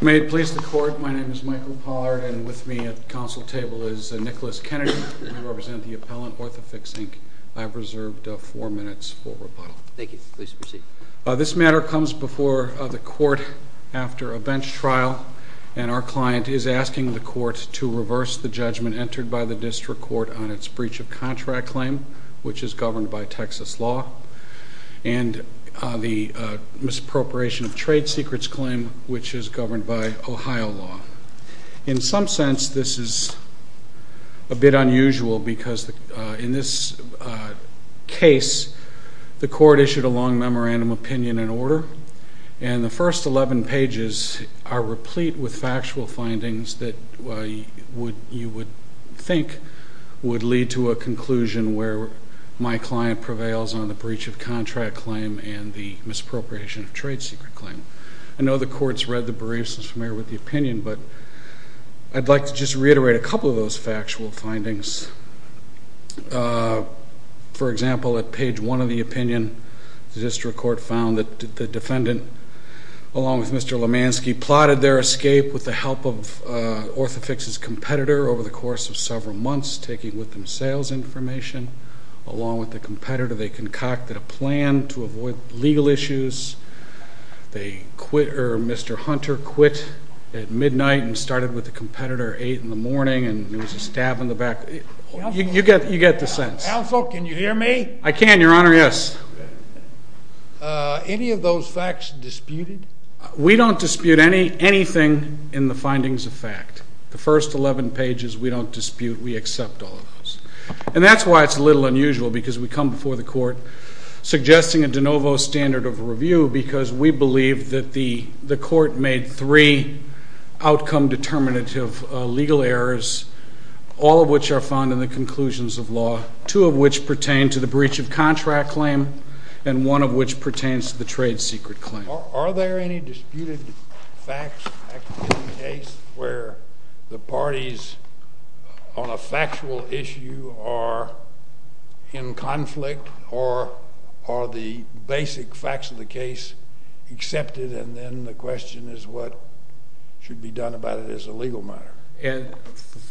May it please the court, my name is Michael Pollard and with me at the counsel table is Nicholas Kennedy. I represent the appellant Orthofix Inc. This matter comes before the court after a bench trial and our client is asking the court to reverse the judgment entered by the district court on its breach of contract claim which is governed by Texas law and the misappropriation of trade secrets claim which is governed by Ohio law. In some sense this is a bit unusual because in this case the court issued a long memorandum opinion in order and the first 11 pages are replete with factual findings that you would think would lead to a conclusion where my client prevails on the breach of contract claim and the misappropriation of trade secret claim. I know the court has read the briefs and is familiar with the opinion but I would like to just reiterate a couple of those factual findings. For example, at page one of the opinion the district court found that the defendant along with Mr. Lemansky plotted their escape with the help of Orthofix's competitor over the course of several months taking with them sales information. Along with the competitor they concocted a plan to avoid legal issues. Mr. Hunter quit at midnight and started with the competitor at 8 in the morning and there was a stab in the back. You get the sense. Counsel, can you hear me? I can, your honor, yes. Any of those facts disputed? We don't dispute anything in the findings of fact. The first 11 pages we don't dispute. We accept all of those. And that's why it's a little unusual because we come before the court suggesting a de novo standard of review because we believe that the court made three outcome determinative legal errors, all of which are found in the conclusions of law, two of which pertain to the breach of contract claim and one of which pertains to the trade secret claim. Are there any disputed facts in the case where the parties on a factual issue are in conflict or are the basic facts of the case accepted and then the question is what should be done about it as a legal matter?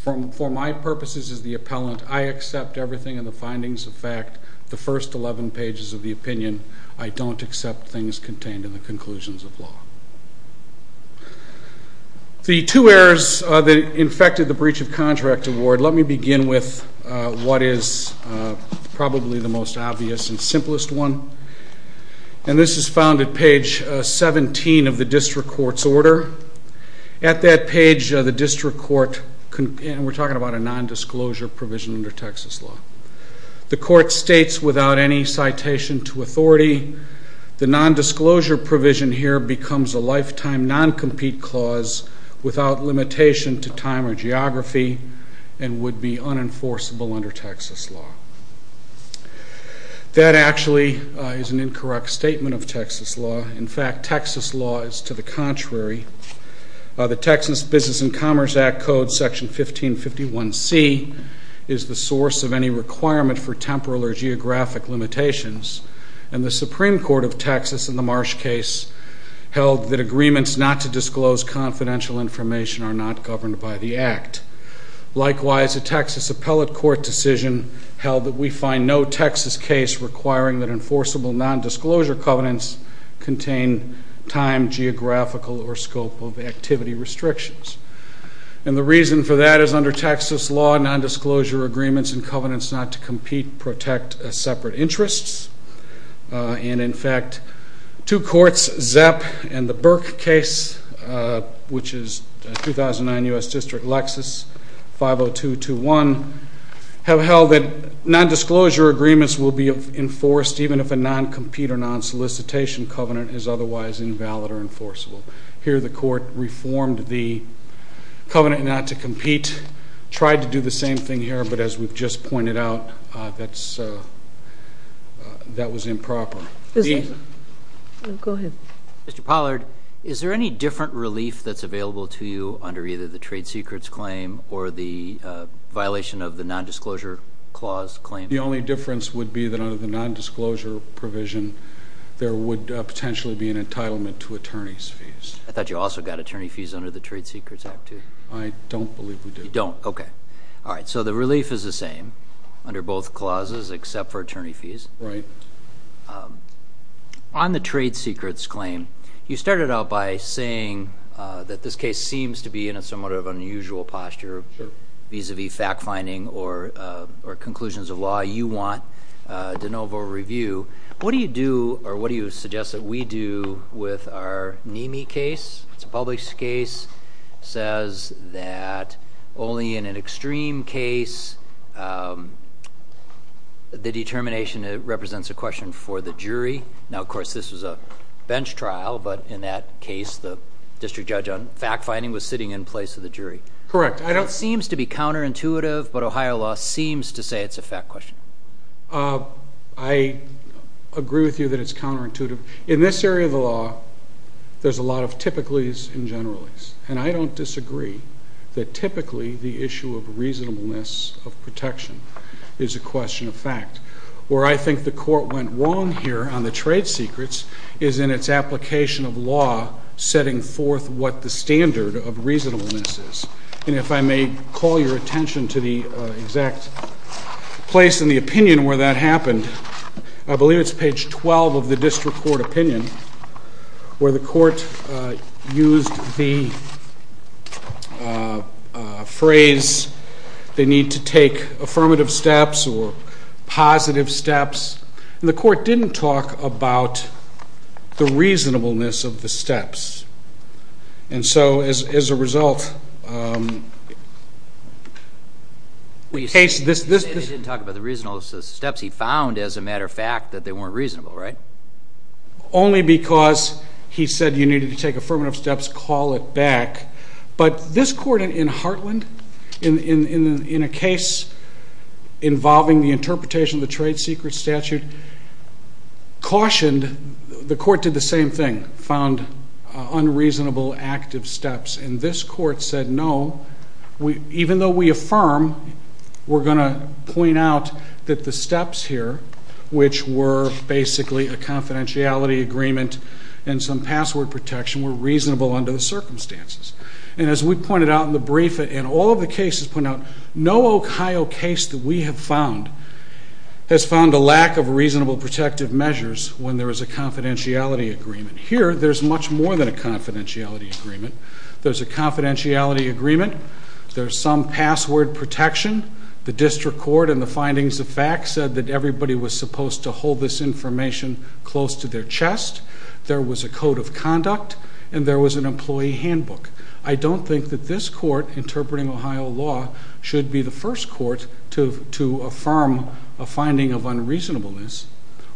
For my purposes as the appellant, I accept everything in the findings of fact, the first 11 pages of the opinion. I don't accept things contained in the conclusions of law. The two errors that infected the breach of contract award, let me begin with what is probably the most obvious and simplest one. And this is found at page 17 of the district court's order. At that page, the district court, and we're talking about a nondisclosure provision under Texas law. The court states without any citation to authority, the nondisclosure provision here becomes a lifetime noncompete clause without limitation to time or geography and would be unenforceable under Texas law. That actually is an incorrect statement of Texas law. In fact, Texas law is to the contrary. The Texas Business and Commerce Act code section 1551C is the source of any requirement for temporal or geographic limitations. And the Supreme Court of Texas in the Marsh case held that agreements not to disclose confidential information are not governed by the act. Likewise, a Texas appellate court decision held that we find no Texas case requiring that enforceable nondisclosure covenants contain time, geographical, or scope of activity restrictions. And the reason for that is under Texas law, nondisclosure agreements and covenants not to compete protect separate interests. And in fact, two courts, Zepp and the Burke case, which is 2009 U.S. District Lexis 50221, have held that nondisclosure agreements will be enforced even if a noncompete or nonsolicitation covenant is otherwise invalid or enforceable. Here the court reformed the covenant not to compete, tried to do the same thing here, but as we've just pointed out, that was improper. Go ahead. Mr. Pollard, is there any different relief that's available to you under either the trade secrets claim or the violation of the nondisclosure clause claim? The only difference would be that under the nondisclosure provision, there would potentially be an entitlement to attorney's fees. I thought you also got attorney fees under the Trade Secrets Act too. I don't believe we do. You don't? Okay. All right. So the relief is the same under both clauses except for attorney fees. Right. On the trade secrets claim, you started out by saying that this case seems to be in a somewhat of unusual posture vis-a-vis fact-finding or conclusions of law. You want de novo review. What do you do or what do you suggest that we do with our NME case? It's a public case. It says that only in an extreme case, the determination represents a question for the jury. Now, of course, this was a bench trial, but in that case, the district judge on fact-finding was sitting in place of the jury. Correct. It seems to be counterintuitive, but Ohio law seems to say it's a fact question. I agree with you that it's counterintuitive. In this area of the law, there's a lot of typicallys and generalys, and I don't disagree that typically the issue of reasonableness of protection is a question of fact. Where I think the court went wrong here on the trade secrets is in its application of law setting forth what the standard of reasonableness is. And if I may call your attention to the exact place in the opinion where that happened, I believe it's page 12 of the district court opinion where the court used the phrase, they need to take affirmative steps or positive steps, and the court didn't talk about the reasonableness of the steps. And so, as a result, in this case... They didn't talk about the reasonableness of the steps. He found, as a matter of fact, that they weren't reasonable, right? Only because he said you needed to take affirmative steps, call it back. But this court in Heartland, in a case involving the interpretation of the trade secret statute, cautioned. And the court did the same thing, found unreasonable active steps. And this court said, no, even though we affirm, we're going to point out that the steps here, which were basically a confidentiality agreement and some password protection, were reasonable under the circumstances. And as we pointed out in the brief and all of the cases pointed out, no Ohio case that we have found has found a lack of reasonable protective measures when there is a confidentiality agreement. Here, there's much more than a confidentiality agreement. There's a confidentiality agreement. There's some password protection. The district court and the findings of fact said that everybody was supposed to hold this information close to their chest. There was a code of conduct. And there was an employee handbook. I don't think that this court interpreting Ohio law should be the first court to affirm a finding of unreasonableness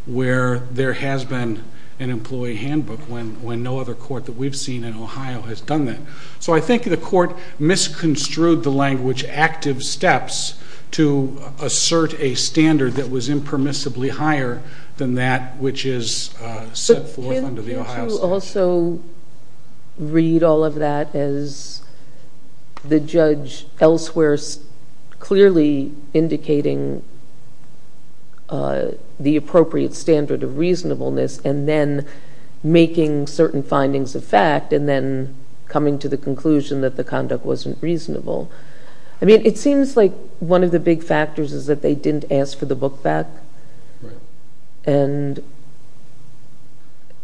where there has been an employee handbook when no other court that we've seen in Ohio has done that. So I think the court misconstrued the language active steps to assert a standard that was impermissibly higher than that which is set forth under the Ohio statute. Do you also read all of that as the judge elsewhere clearly indicating the appropriate standard of reasonableness and then making certain findings of fact and then coming to the conclusion that the conduct wasn't reasonable? I mean, it seems like one of the big factors is that they didn't ask for the book back. And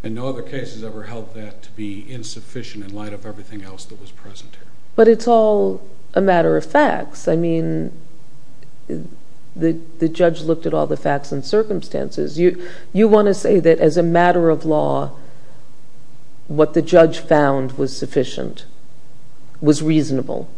no other case has ever held that to be insufficient in light of everything else that was present here. But it's all a matter of facts. I mean, the judge looked at all the facts and circumstances. You want to say that as a matter of law, what the judge found was sufficient, was reasonable?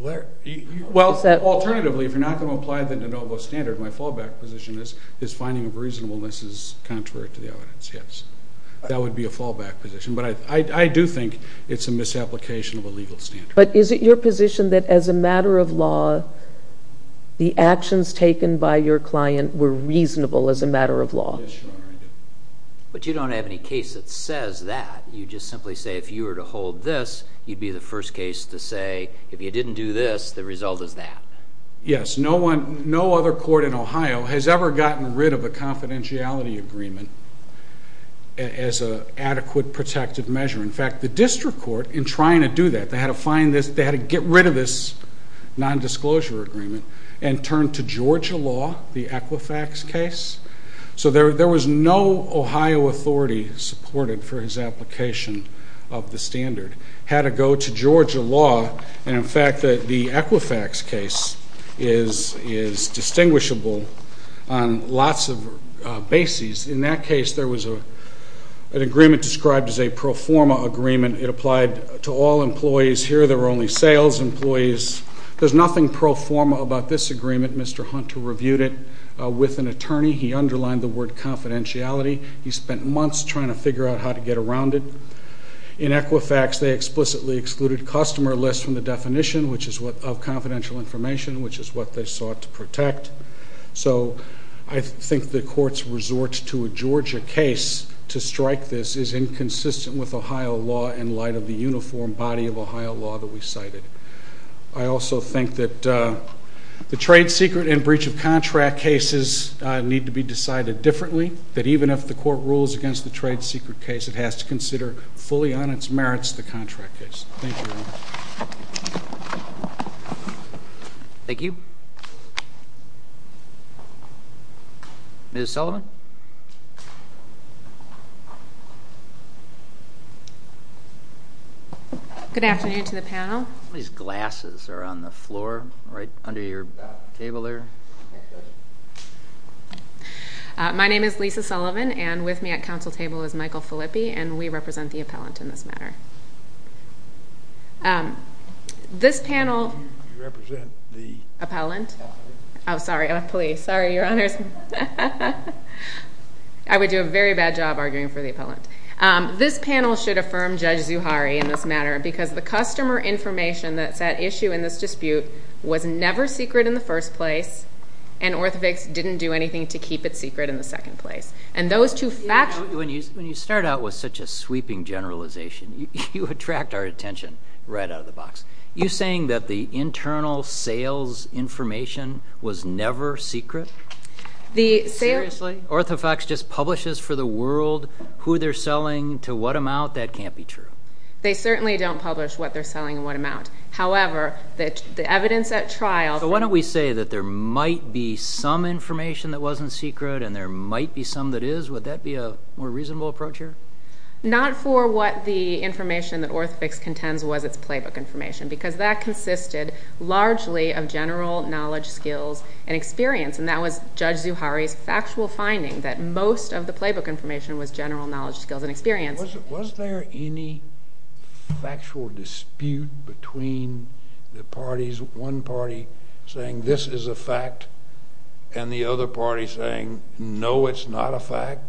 Well, alternatively, if you're not going to apply the de novo standard, my fallback position is finding of reasonableness is contrary to the evidence, yes. That would be a fallback position. But I do think it's a misapplication of a legal standard. But is it your position that as a matter of law, the actions taken by your client were reasonable as a matter of law? Yes, Your Honor, I do. But you don't have any case that says that. You just simply say if you were to hold this, you'd be the first case to say if you didn't do this, the result is that. Yes, no other court in Ohio has ever gotten rid of a confidentiality agreement as an adequate protective measure. In fact, the district court, in trying to do that, they had to get rid of this nondisclosure agreement and turn to Georgia law, the Equifax case. So there was no Ohio authority supported for his application of the standard. Had to go to Georgia law. And, in fact, the Equifax case is distinguishable on lots of bases. In that case, there was an agreement described as a pro forma agreement. It applied to all employees. Here there were only sales employees. There's nothing pro forma about this agreement. Mr. Hunter reviewed it with an attorney. He underlined the word confidentiality. He spent months trying to figure out how to get around it. In Equifax, they explicitly excluded customer lists from the definition of confidential information, which is what they sought to protect. So I think the court's resort to a Georgia case to strike this is inconsistent with Ohio law in light of the uniform body of Ohio law that we cited. I also think that the trade secret and breach of contract cases need to be decided differently, that even if the court rules against the trade secret case, it has to consider fully on its merits the contract case. Thank you very much. Thank you. Ms. Sullivan. Ms. Sullivan. Good afternoon to the panel. These glasses are on the floor right under your table there. My name is Lisa Sullivan, and with me at council table is Michael Filippi, and we represent the appellant in this matter. This panel- You represent the- Appellant? Oh, sorry. I'm a police. Sorry, Your Honors. I would do a very bad job arguing for the appellant. This panel should affirm Judge Zuhari in this matter because the customer information that's at issue in this dispute was never secret in the first place, and OrthoVix didn't do anything to keep it secret in the second place. And those two facts- When you start out with such a sweeping generalization, you attract our attention right out of the box. You're saying that the internal sales information was never secret? Seriously? OrthoVix just publishes for the world who they're selling to what amount? That can't be true. They certainly don't publish what they're selling and what amount. However, the evidence at trial- So why don't we say that there might be some information that wasn't secret and there might be some that is? Would that be a more reasonable approach here? Not for what the information that OrthoVix contends was its playbook information because that consisted largely of general knowledge, skills, and experience, and that was Judge Zuhari's factual finding that most of the playbook information was general knowledge, skills, and experience. Was there any factual dispute between the parties, one party saying this is a fact and the other party saying no, it's not a fact,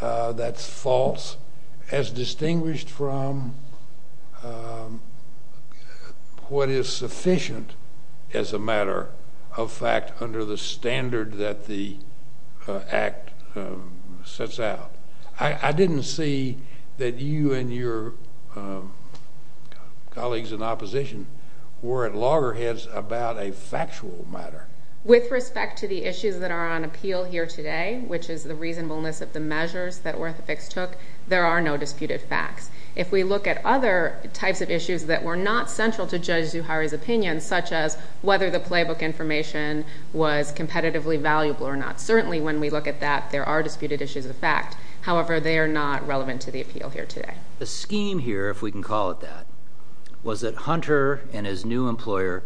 that's false, as distinguished from what is sufficient as a matter of fact under the standard that the Act sets out? I didn't see that you and your colleagues in opposition were at loggerheads about a factual matter. With respect to the issues that are on appeal here today, which is the reasonableness of the measures that OrthoVix took, there are no disputed facts. If we look at other types of issues that were not central to Judge Zuhari's opinion, such as whether the playbook information was competitively valuable or not, certainly when we look at that, there are disputed issues of fact. However, they are not relevant to the appeal here today. The scheme here, if we can call it that, was that Hunter and his new employer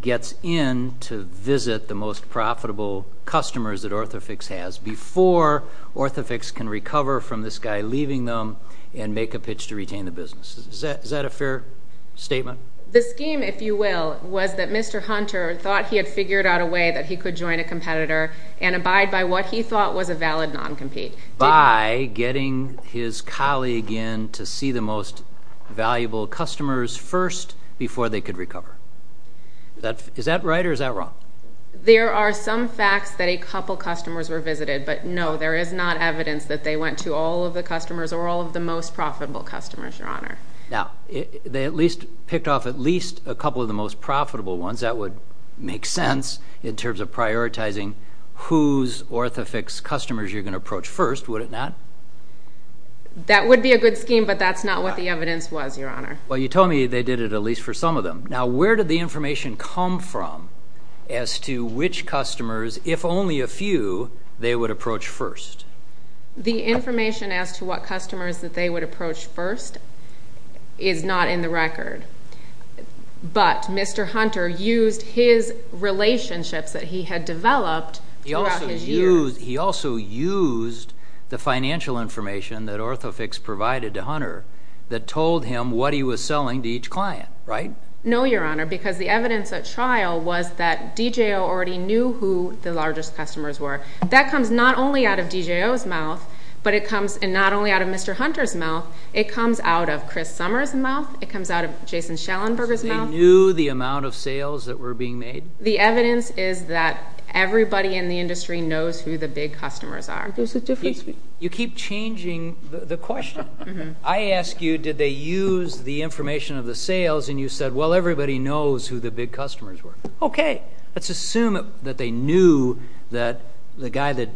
gets in to visit the most profitable customers that OrthoVix has before OrthoVix can recover from this guy leaving them and make a pitch to retain the business. Is that a fair statement? The scheme, if you will, was that Mr. Hunter thought he had figured out a way that he could join a competitor and abide by what he thought was a valid non-compete. By getting his colleague in to see the most valuable customers first before they could recover. Is that right or is that wrong? There are some facts that a couple customers were visited, but no, there is not evidence that they went to all of the customers or all of the most profitable customers, Your Honor. Now, they at least picked off at least a couple of the most profitable ones. That would make sense in terms of prioritizing whose OrthoVix customers you're going to approach first, would it not? That would be a good scheme, but that's not what the evidence was, Your Honor. Well, you told me they did it at least for some of them. Now, where did the information come from as to which customers, if only a few, they would approach first? The information as to what customers that they would approach first is not in the record, but Mr. Hunter used his relationships that he had developed throughout his years. He also used the financial information that OrthoVix provided to Hunter that told him what he was selling to each client, right? No, Your Honor, because the evidence at trial was that DJO already knew who the largest customers were. That comes not only out of DJO's mouth, but it comes not only out of Mr. Hunter's mouth. It comes out of Chris Summers' mouth. It comes out of Jason Schellenberger's mouth. So they knew the amount of sales that were being made? The evidence is that everybody in the industry knows who the big customers are. You keep changing the question. I ask you, did they use the information of the sales, and you said, well, everybody knows who the big customers were. Okay. Let's assume that they knew that the guy that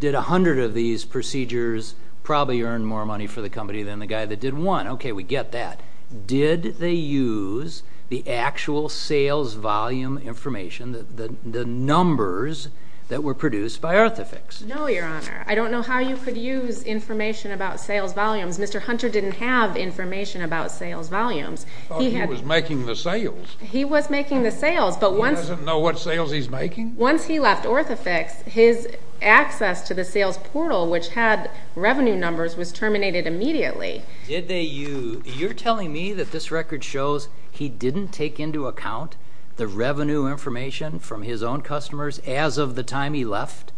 did 100 of these procedures probably earned more money for the company than the guy that did one. Okay, we get that. Did they use the actual sales volume information, the numbers that were produced by OrthoVix? No, Your Honor. I don't know how you could use information about sales volumes. Mr. Hunter didn't have information about sales volumes. I thought he was making the sales. He was making the sales. He doesn't know what sales he's making? Once he left OrthoVix, his access to the sales portal, which had revenue numbers, was terminated immediately. You're telling me that this record shows he didn't take into account the revenue information from his own customers as of the time he left?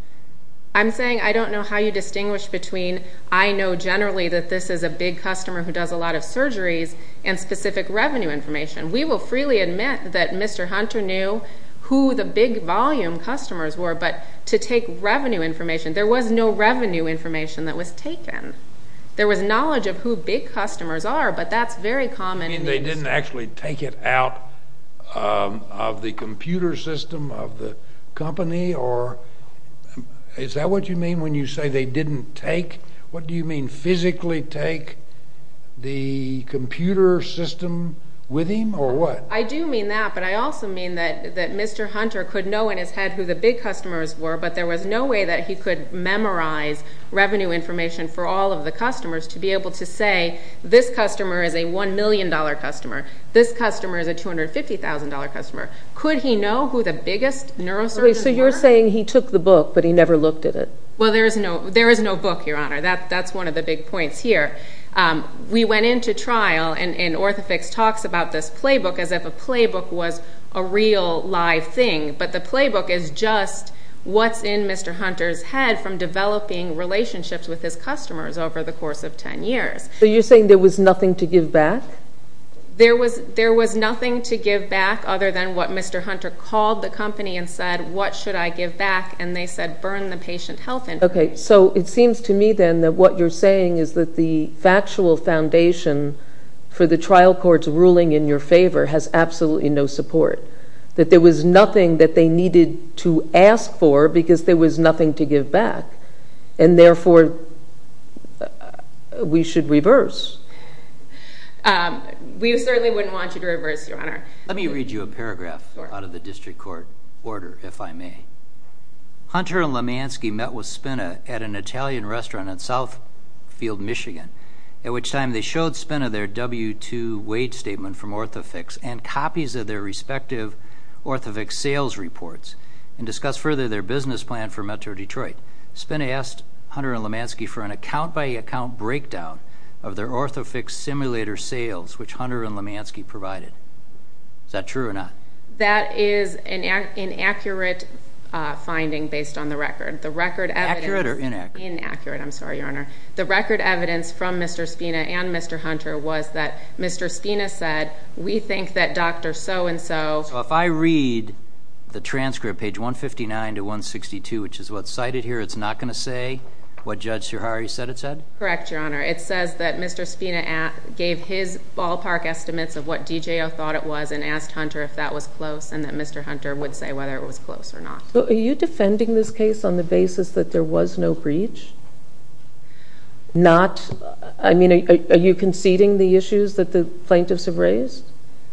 I'm saying I don't know how you distinguish between I know generally that this is a big customer who does a lot of surgeries and specific revenue information. We will freely admit that Mr. Hunter knew who the big volume customers were, but to take revenue information, there was no revenue information that was taken. There was knowledge of who big customers are, but that's very common in the industry. He didn't actually take it out of the computer system of the company, or is that what you mean when you say they didn't take? What do you mean, physically take the computer system with him, or what? I do mean that, but I also mean that Mr. Hunter could know in his head who the big customers were, but there was no way that he could memorize revenue information for all of the customers to be able to say, this customer is a $1 million customer, this customer is a $250,000 customer. Could he know who the biggest neurosurgeons were? So you're saying he took the book, but he never looked at it? Well, there is no book, Your Honor. That's one of the big points here. We went into trial, and OrthoVix talks about this playbook as if a playbook was a real, live thing, but the playbook is just what's in Mr. Hunter's head from developing relationships with his customers over the course of 10 years. So you're saying there was nothing to give back? There was nothing to give back other than what Mr. Hunter called the company and said, what should I give back, and they said, burn the patient health information. Okay, so it seems to me then that what you're saying is that the factual foundation for the trial court's ruling in your favor has absolutely no support, that there was nothing that they needed to ask for because there was nothing to give back, and therefore we should reverse. We certainly wouldn't want you to reverse, Your Honor. Let me read you a paragraph out of the district court order, if I may. Hunter and Lemansky met with Spina at an Italian restaurant in Southfield, Michigan, at which time they showed Spina their W-2 wage statement from OrthoVix and copies of their respective OrthoVix sales reports and discussed further their business plan for Metro Detroit. Spina asked Hunter and Lemansky for an account-by-account breakdown of their OrthoVix simulator sales, which Hunter and Lemansky provided. Is that true or not? That is an inaccurate finding based on the record. Accurate or inaccurate? Inaccurate, I'm sorry, Your Honor. The record evidence from Mr. Spina and Mr. Hunter was that Mr. Spina said, we think that Dr. So-and-so... So if I read the transcript, page 159 to 162, which is what's cited here, it's not going to say what Judge Suhari said it said? Correct, Your Honor. It says that Mr. Spina gave his ballpark estimates of what DJO thought it was and asked Hunter if that was close and that Mr. Hunter would say whether it was close or not. Are you defending this case on the basis that there was no breach? Are you conceding the issues that the plaintiffs have raised?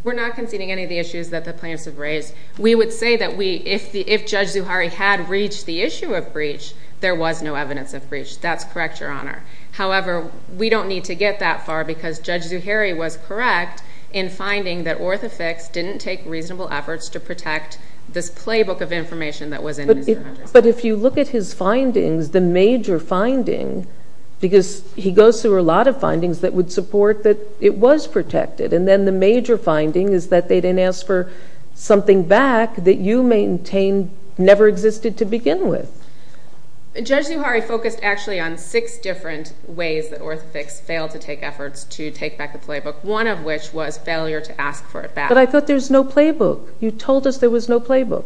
We're not conceding any of the issues that the plaintiffs have raised. We would say that if Judge Suhari had reached the issue of breach, there was no evidence of breach. That's correct, Your Honor. However, we don't need to get that far because Judge Suhari was correct in finding that OrthoVix didn't take reasonable efforts to protect this playbook of information that was in Mr. Hunter's file. But if you look at his findings, the major finding, because he goes through a lot of findings that would support that it was protected, and then the major finding is that they didn't ask for something back that you maintain never existed to begin with. Judge Suhari focused actually on six different ways that OrthoVix failed to take efforts to take back the playbook, one of which was failure to ask for it back. But I thought there was no playbook. You told us there was no playbook.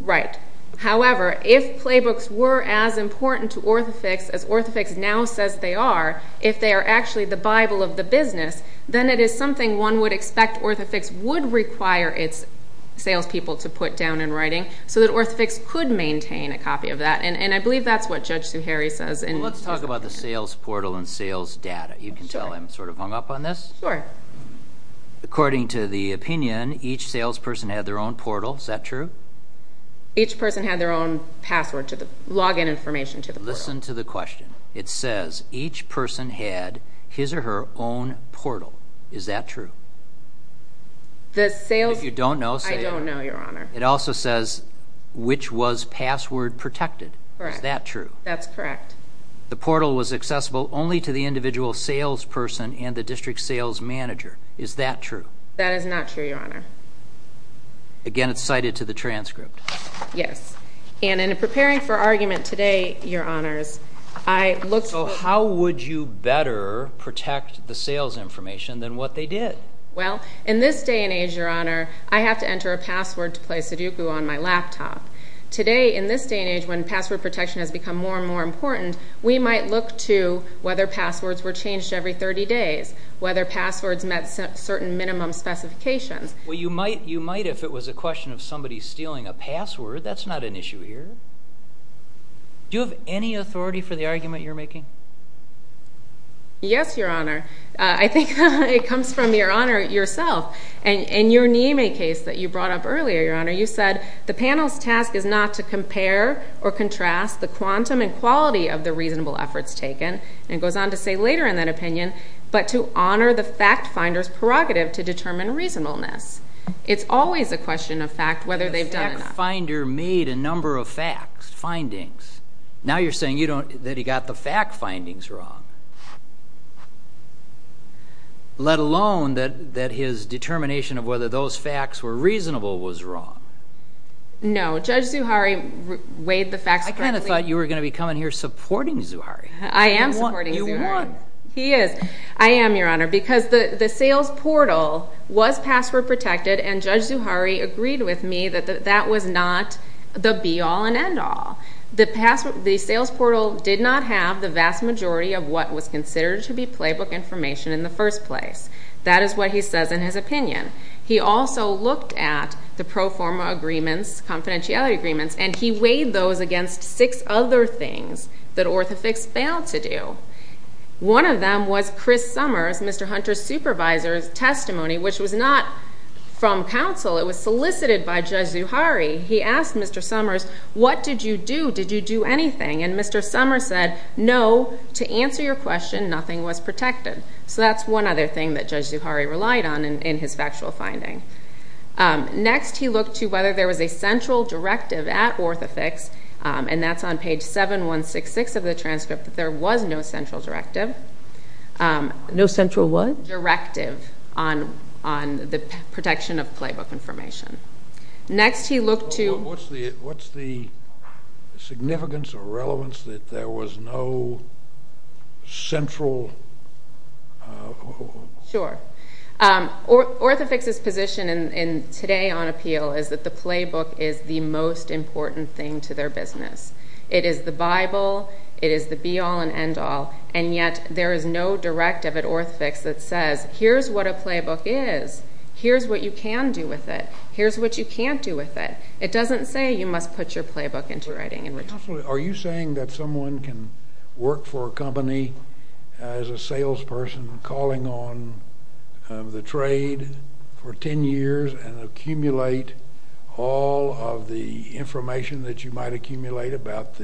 Right. However, if playbooks were as important to OrthoVix as OrthoVix now says they are, if they are actually the Bible of the business, then it is something one would expect OrthoVix would require its salespeople to put down in writing so that OrthoVix could maintain a copy of that. And I believe that's what Judge Suhari says. Well, let's talk about the sales portal and sales data. You can tell I'm sort of hung up on this. Sure. According to the opinion, each salesperson had their own portal. Is that true? Each person had their own password to the login information to the portal. Listen to the question. It says each person had his or her own portal. Is that true? The sales... If you don't know, say it. I don't know, Your Honor. It also says which was password protected. Correct. Is that true? That's correct. The portal was accessible only to the individual salesperson and the district sales manager. Is that true? That is not true, Your Honor. Again, it's cited to the transcript. Yes. And in preparing for argument today, Your Honors, I looked... So how would you better protect the sales information than what they did? Well, in this day and age, Your Honor, I have to enter a password to play Sudoku on my laptop. Today, in this day and age, when password protection has become more and more important, we might look to whether passwords were changed every 30 days, whether passwords met certain minimum specifications. Well, you might if it was a question of somebody stealing a password. That's not an issue here. Do you have any authority for the argument you're making? Yes, Your Honor. I think it comes from Your Honor yourself. In your Nieme case that you brought up earlier, Your Honor, you said the panel's task is not to compare or contrast the quantum and quality of the reasonable efforts taken, and it goes on to say later in that opinion, but to honor the fact finder's prerogative to determine reasonableness. It's always a question of fact whether they've done it or not. The fact finder made a number of facts, findings. Now you're saying that he got the fact findings wrong. Let alone that his determination of whether those facts were reasonable was wrong. No. Judge Zuhari weighed the facts correctly. I kind of thought you were going to be coming here supporting Zuhari. I am supporting Zuhari. You won. He is. I am, Your Honor, because the sales portal was password protected, and Judge Zuhari agreed with me that that was not the be-all and end-all. The sales portal did not have the vast majority of what was considered to be playbook information in the first place. That is what he says in his opinion. He also looked at the pro forma agreements, confidentiality agreements, and he weighed those against six other things that orthofix failed to do. One of them was Chris Summers, Mr. Hunter's supervisor's testimony, which was not from counsel. It was solicited by Judge Zuhari. He asked Mr. Summers, what did you do? Did you do anything? And Mr. Summers said, no, to answer your question, nothing was protected. So that's one other thing that Judge Zuhari relied on in his factual finding. Next, he looked to whether there was a central directive at orthofix, and that's on page 7166 of the transcript, that there was no central directive. No central what? Directive on the protection of playbook information. What's the significance or relevance that there was no central? Sure. Orthofix's position today on appeal is that the playbook is the most important thing to their business. It is the Bible, it is the be-all and end-all, and yet there is no directive at orthofix that says, here's what a playbook is, here's what you can do with it, here's what you can't do with it. It doesn't say you must put your playbook into writing. Are you saying that someone can work for a company as a salesperson calling on the trade for 10 years and accumulate all of the information that you might accumulate about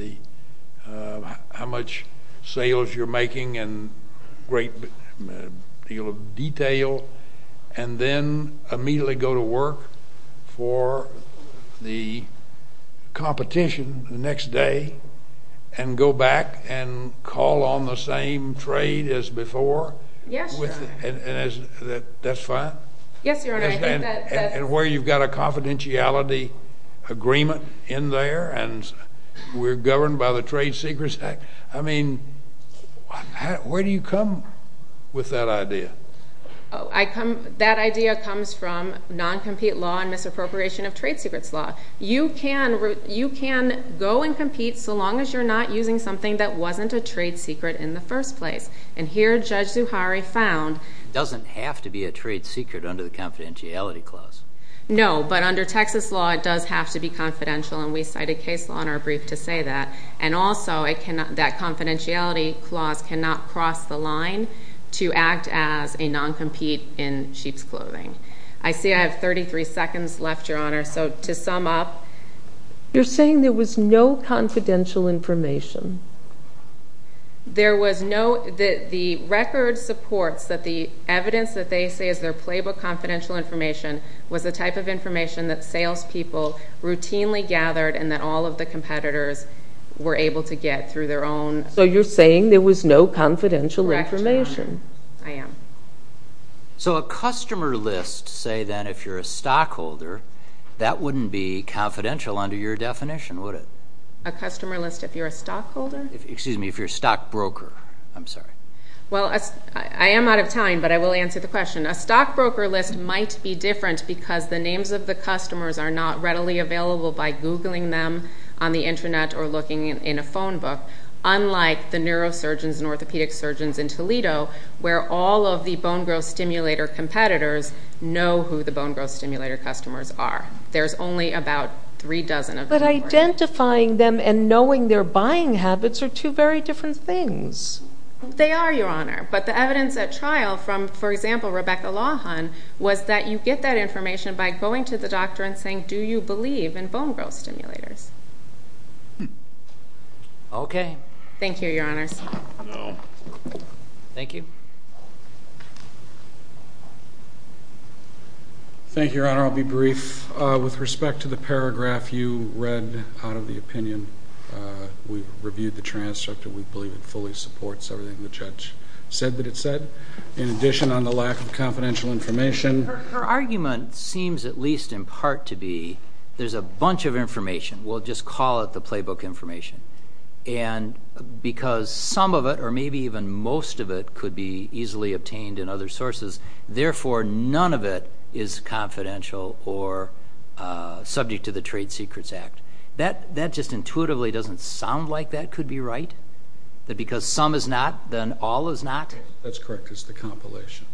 how much sales you're making and a great deal of detail and then immediately go to work for the competition the next day and go back and call on the same trade as before? Yes, Your Honor. That's fine? Yes, Your Honor, I think that's fine. And where you've got a confidentiality agreement in there and we're governed by the Trade Secrets Act. I mean, where do you come with that idea? That idea comes from non-compete law and misappropriation of trade secrets law. You can go and compete so long as you're not using something that wasn't a trade secret in the first place. And here Judge Zuhari found... It doesn't have to be a trade secret under the confidentiality clause. No, but under Texas law it does have to be confidential and we cited case law in our brief to say that. And also that confidentiality clause cannot cross the line to act as a non-compete in sheep's clothing. I see I have 33 seconds left, Your Honor, so to sum up... You're saying there was no confidential information? There was no... The record supports that the evidence that they say is their playbook confidential information was the type of information that salespeople routinely gathered and that all of the competitors were able to get through their own... So you're saying there was no confidential information? Correct, Your Honor. I am. So a customer list, say then, if you're a stockholder, that wouldn't be confidential under your definition, would it? A customer list if you're a stockholder? Excuse me, if you're a stockbroker. I'm sorry. Well, I am out of time, but I will answer the question. A stockbroker list might be different because the names of the customers are not readily available by Googling them on the Internet or looking in a phone book, unlike the neurosurgeons and orthopedic surgeons in Toledo where all of the bone growth stimulator competitors know who the bone growth stimulator customers are. There's only about three dozen of them. But identifying them and knowing their buying habits are two very different things. They are, Your Honor. But the evidence at trial from, for example, Rebecca Lawhon, was that you get that information by going to the doctor and saying, do you believe in bone growth stimulators? Okay. Thank you, Your Honors. Thank you. Thank you, Your Honor. I'll be brief. With respect to the paragraph you read out of the opinion, we reviewed the transcript and we believe it fully supports everything the judge said that it said. In addition, on the lack of confidential information. Her argument seems at least in part to be there's a bunch of information. We'll just call it the playbook information. And because some of it or maybe even most of it could be easily obtained in other sources, therefore none of it is confidential or subject to the Trade Secrets Act. That just intuitively doesn't sound like that could be right? That because some is not, then all is not? That's correct. It's the compilation.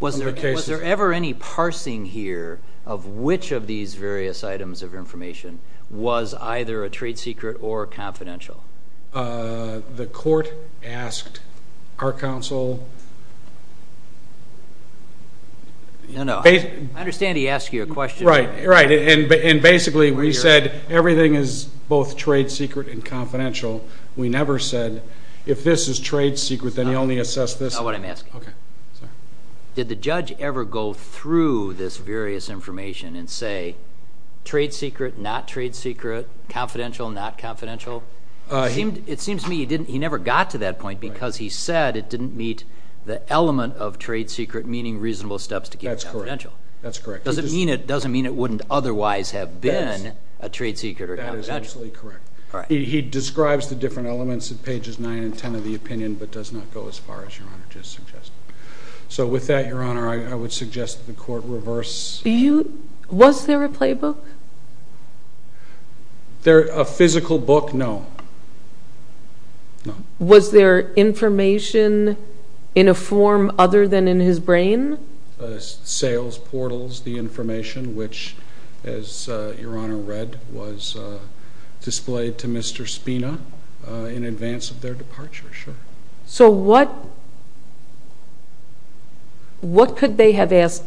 Was there ever any parsing here of which of these various items of information was either a trade secret or confidential? The court asked our counsel. No, no. I understand he asked you a question. Right, right. And basically we said everything is both trade secret and confidential. We never said if this is trade secret, then you only assess this. That's not what I'm asking. Okay. Did the judge ever go through this various information and say trade secret, not trade secret, confidential, not confidential? It seems to me he never got to that point because he said it didn't meet the element of trade secret, meaning reasonable steps to keep confidential. That's correct. Doesn't mean it wouldn't otherwise have been a trade secret or confidential. That is absolutely correct. He describes the different elements at pages 9 and 10 of the opinion but does not go as far as Your Honor just suggested. So with that, Your Honor, I would suggest that the court reverse. Was there a playbook? A physical book? No. Was there information in a form other than in his brain? Sales portals, the information which, as Your Honor read, was displayed to Mr. Spina in advance of their departure, sure. So what could they have asked?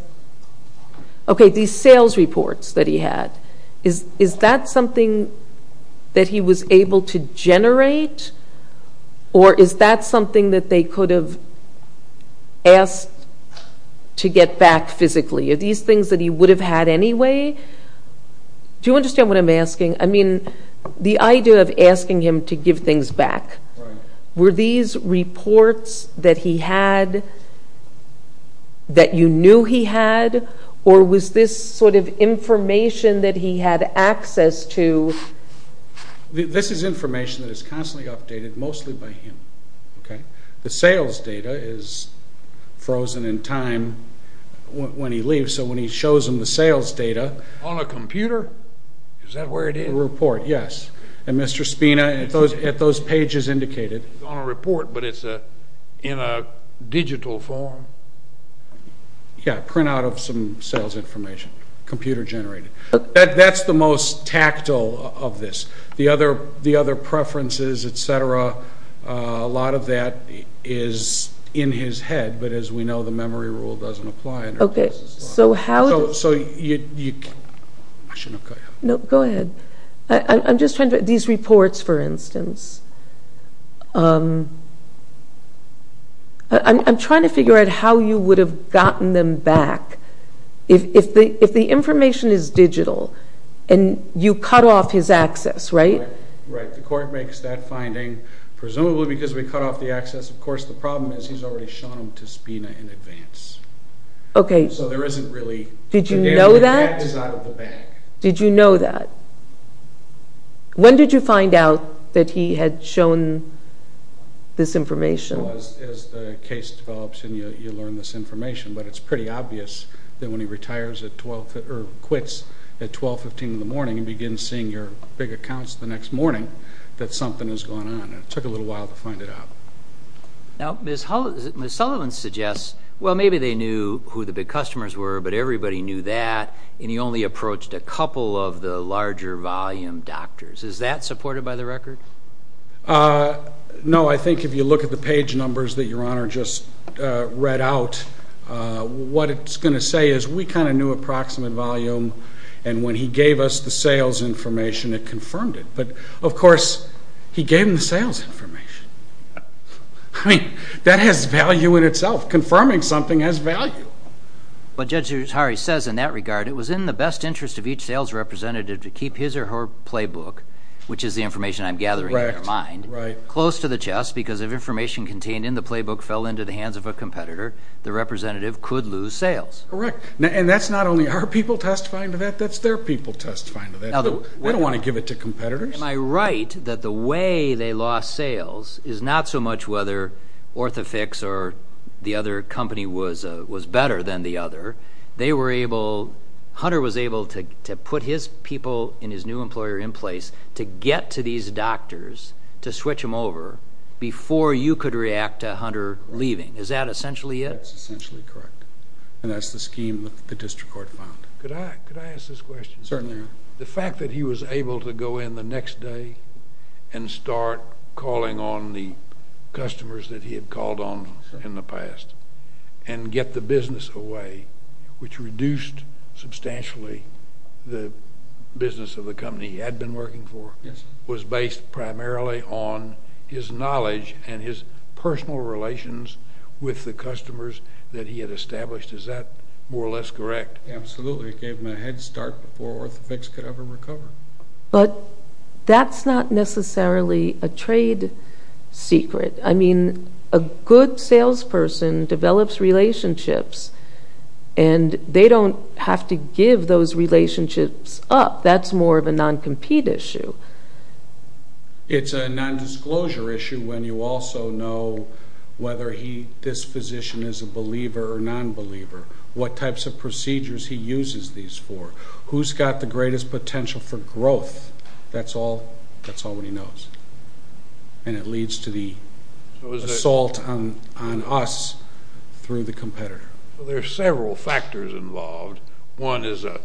Okay, these sales reports that he had, is that something that he was able to generate or is that something that they could have asked to get back physically? Are these things that he would have had anyway? Do you understand what I'm asking? I mean, the idea of asking him to give things back, were these reports that he had that you knew he had or was this sort of information that he had access to? This is information that is constantly updated, mostly by him. The sales data is frozen in time when he leaves, so when he shows them the sales data. On a computer? Is that where it is? A report, yes. And Mr. Spina, at those pages indicated. It's on a report but it's in a digital form? Yeah, print out of some sales information, computer generated. That's the most tactile of this. The other preferences, et cetera, a lot of that is in his head, but as we know, the memory rule doesn't apply. Okay, so how does... So you... No, go ahead. I'm just trying to... These reports, for instance. I'm trying to figure out how you would have gotten them back. If the information is digital and you cut off his access, right? Right. The court makes that finding, presumably because we cut off the access. Of course, the problem is he's already shown them to Spina in advance. Okay. So there isn't really... Did you know that? That is out of the bag. Did you know that? When did you find out that he had shown this information? As the case develops and you learn this information, but it's pretty obvious that when he quits at 12, 15 in the morning and begins seeing your big accounts the next morning that something has gone on. It took a little while to find it out. Now, Ms. Sullivan suggests, well, maybe they knew who the big customers were, but everybody knew that, and he only approached a couple of the larger volume doctors. Is that supported by the record? No. I think if you look at the page numbers that Your Honor just read out, what it's going to say is we kind of knew approximate volume, and when he gave us the sales information, it confirmed it. But, of course, he gave them the sales information. I mean, that has value in itself. Confirming something has value. But Judge Ushari says in that regard, it was in the best interest of each sales representative to keep his or her playbook, which is the information I'm gathering in my mind, close to the chest because if information contained in the playbook fell into the hands of a competitor, the representative could lose sales. Correct. And that's not only our people testifying to that. That's their people testifying to that. They don't want to give it to competitors. Am I right that the way they lost sales is not so much whether OrthoFix or the other company was better than the other. Hunter was able to put his people and his new employer in place to get to these doctors to switch them over before you could react to Hunter leaving. Is that essentially it? That's essentially correct. And that's the scheme that the district court found. Could I ask this question? Certainly. The fact that he was able to go in the next day and start calling on the customers that he had called on in the past and get the business away, which reduced substantially the business of the company he had been working for, was based primarily on his knowledge and his personal relations with the customers that he had established. Is that more or less correct? Absolutely. It gave him a head start before OrthoFix could ever recover. But that's not necessarily a trade secret. I mean, a good salesperson develops relationships, and they don't have to give those relationships up. That's more of a non-compete issue. It's a non-disclosure issue when you also know whether this physician is a believer or non-believer, what types of procedures he uses these for, who's got the greatest potential for growth. That's all he knows. And it leads to the assault on us through the competitor. There are several factors involved. One is a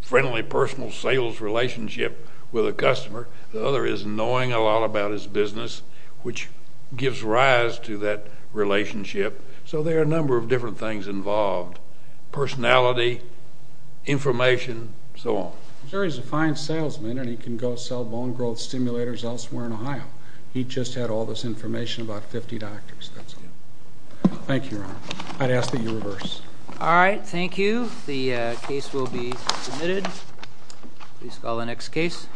friendly personal sales relationship with a customer. The other is knowing a lot about his business, which gives rise to that relationship. So there are a number of different things involved, personality, information, and so on. I'm sure he's a fine salesman, and he can go sell bone growth stimulators elsewhere in Ohio. He just had all this information about 50 doctors. That's it. Thank you, Your Honor. I'd ask that you reverse. All right. Thank you. The case will be submitted. Please call the next case.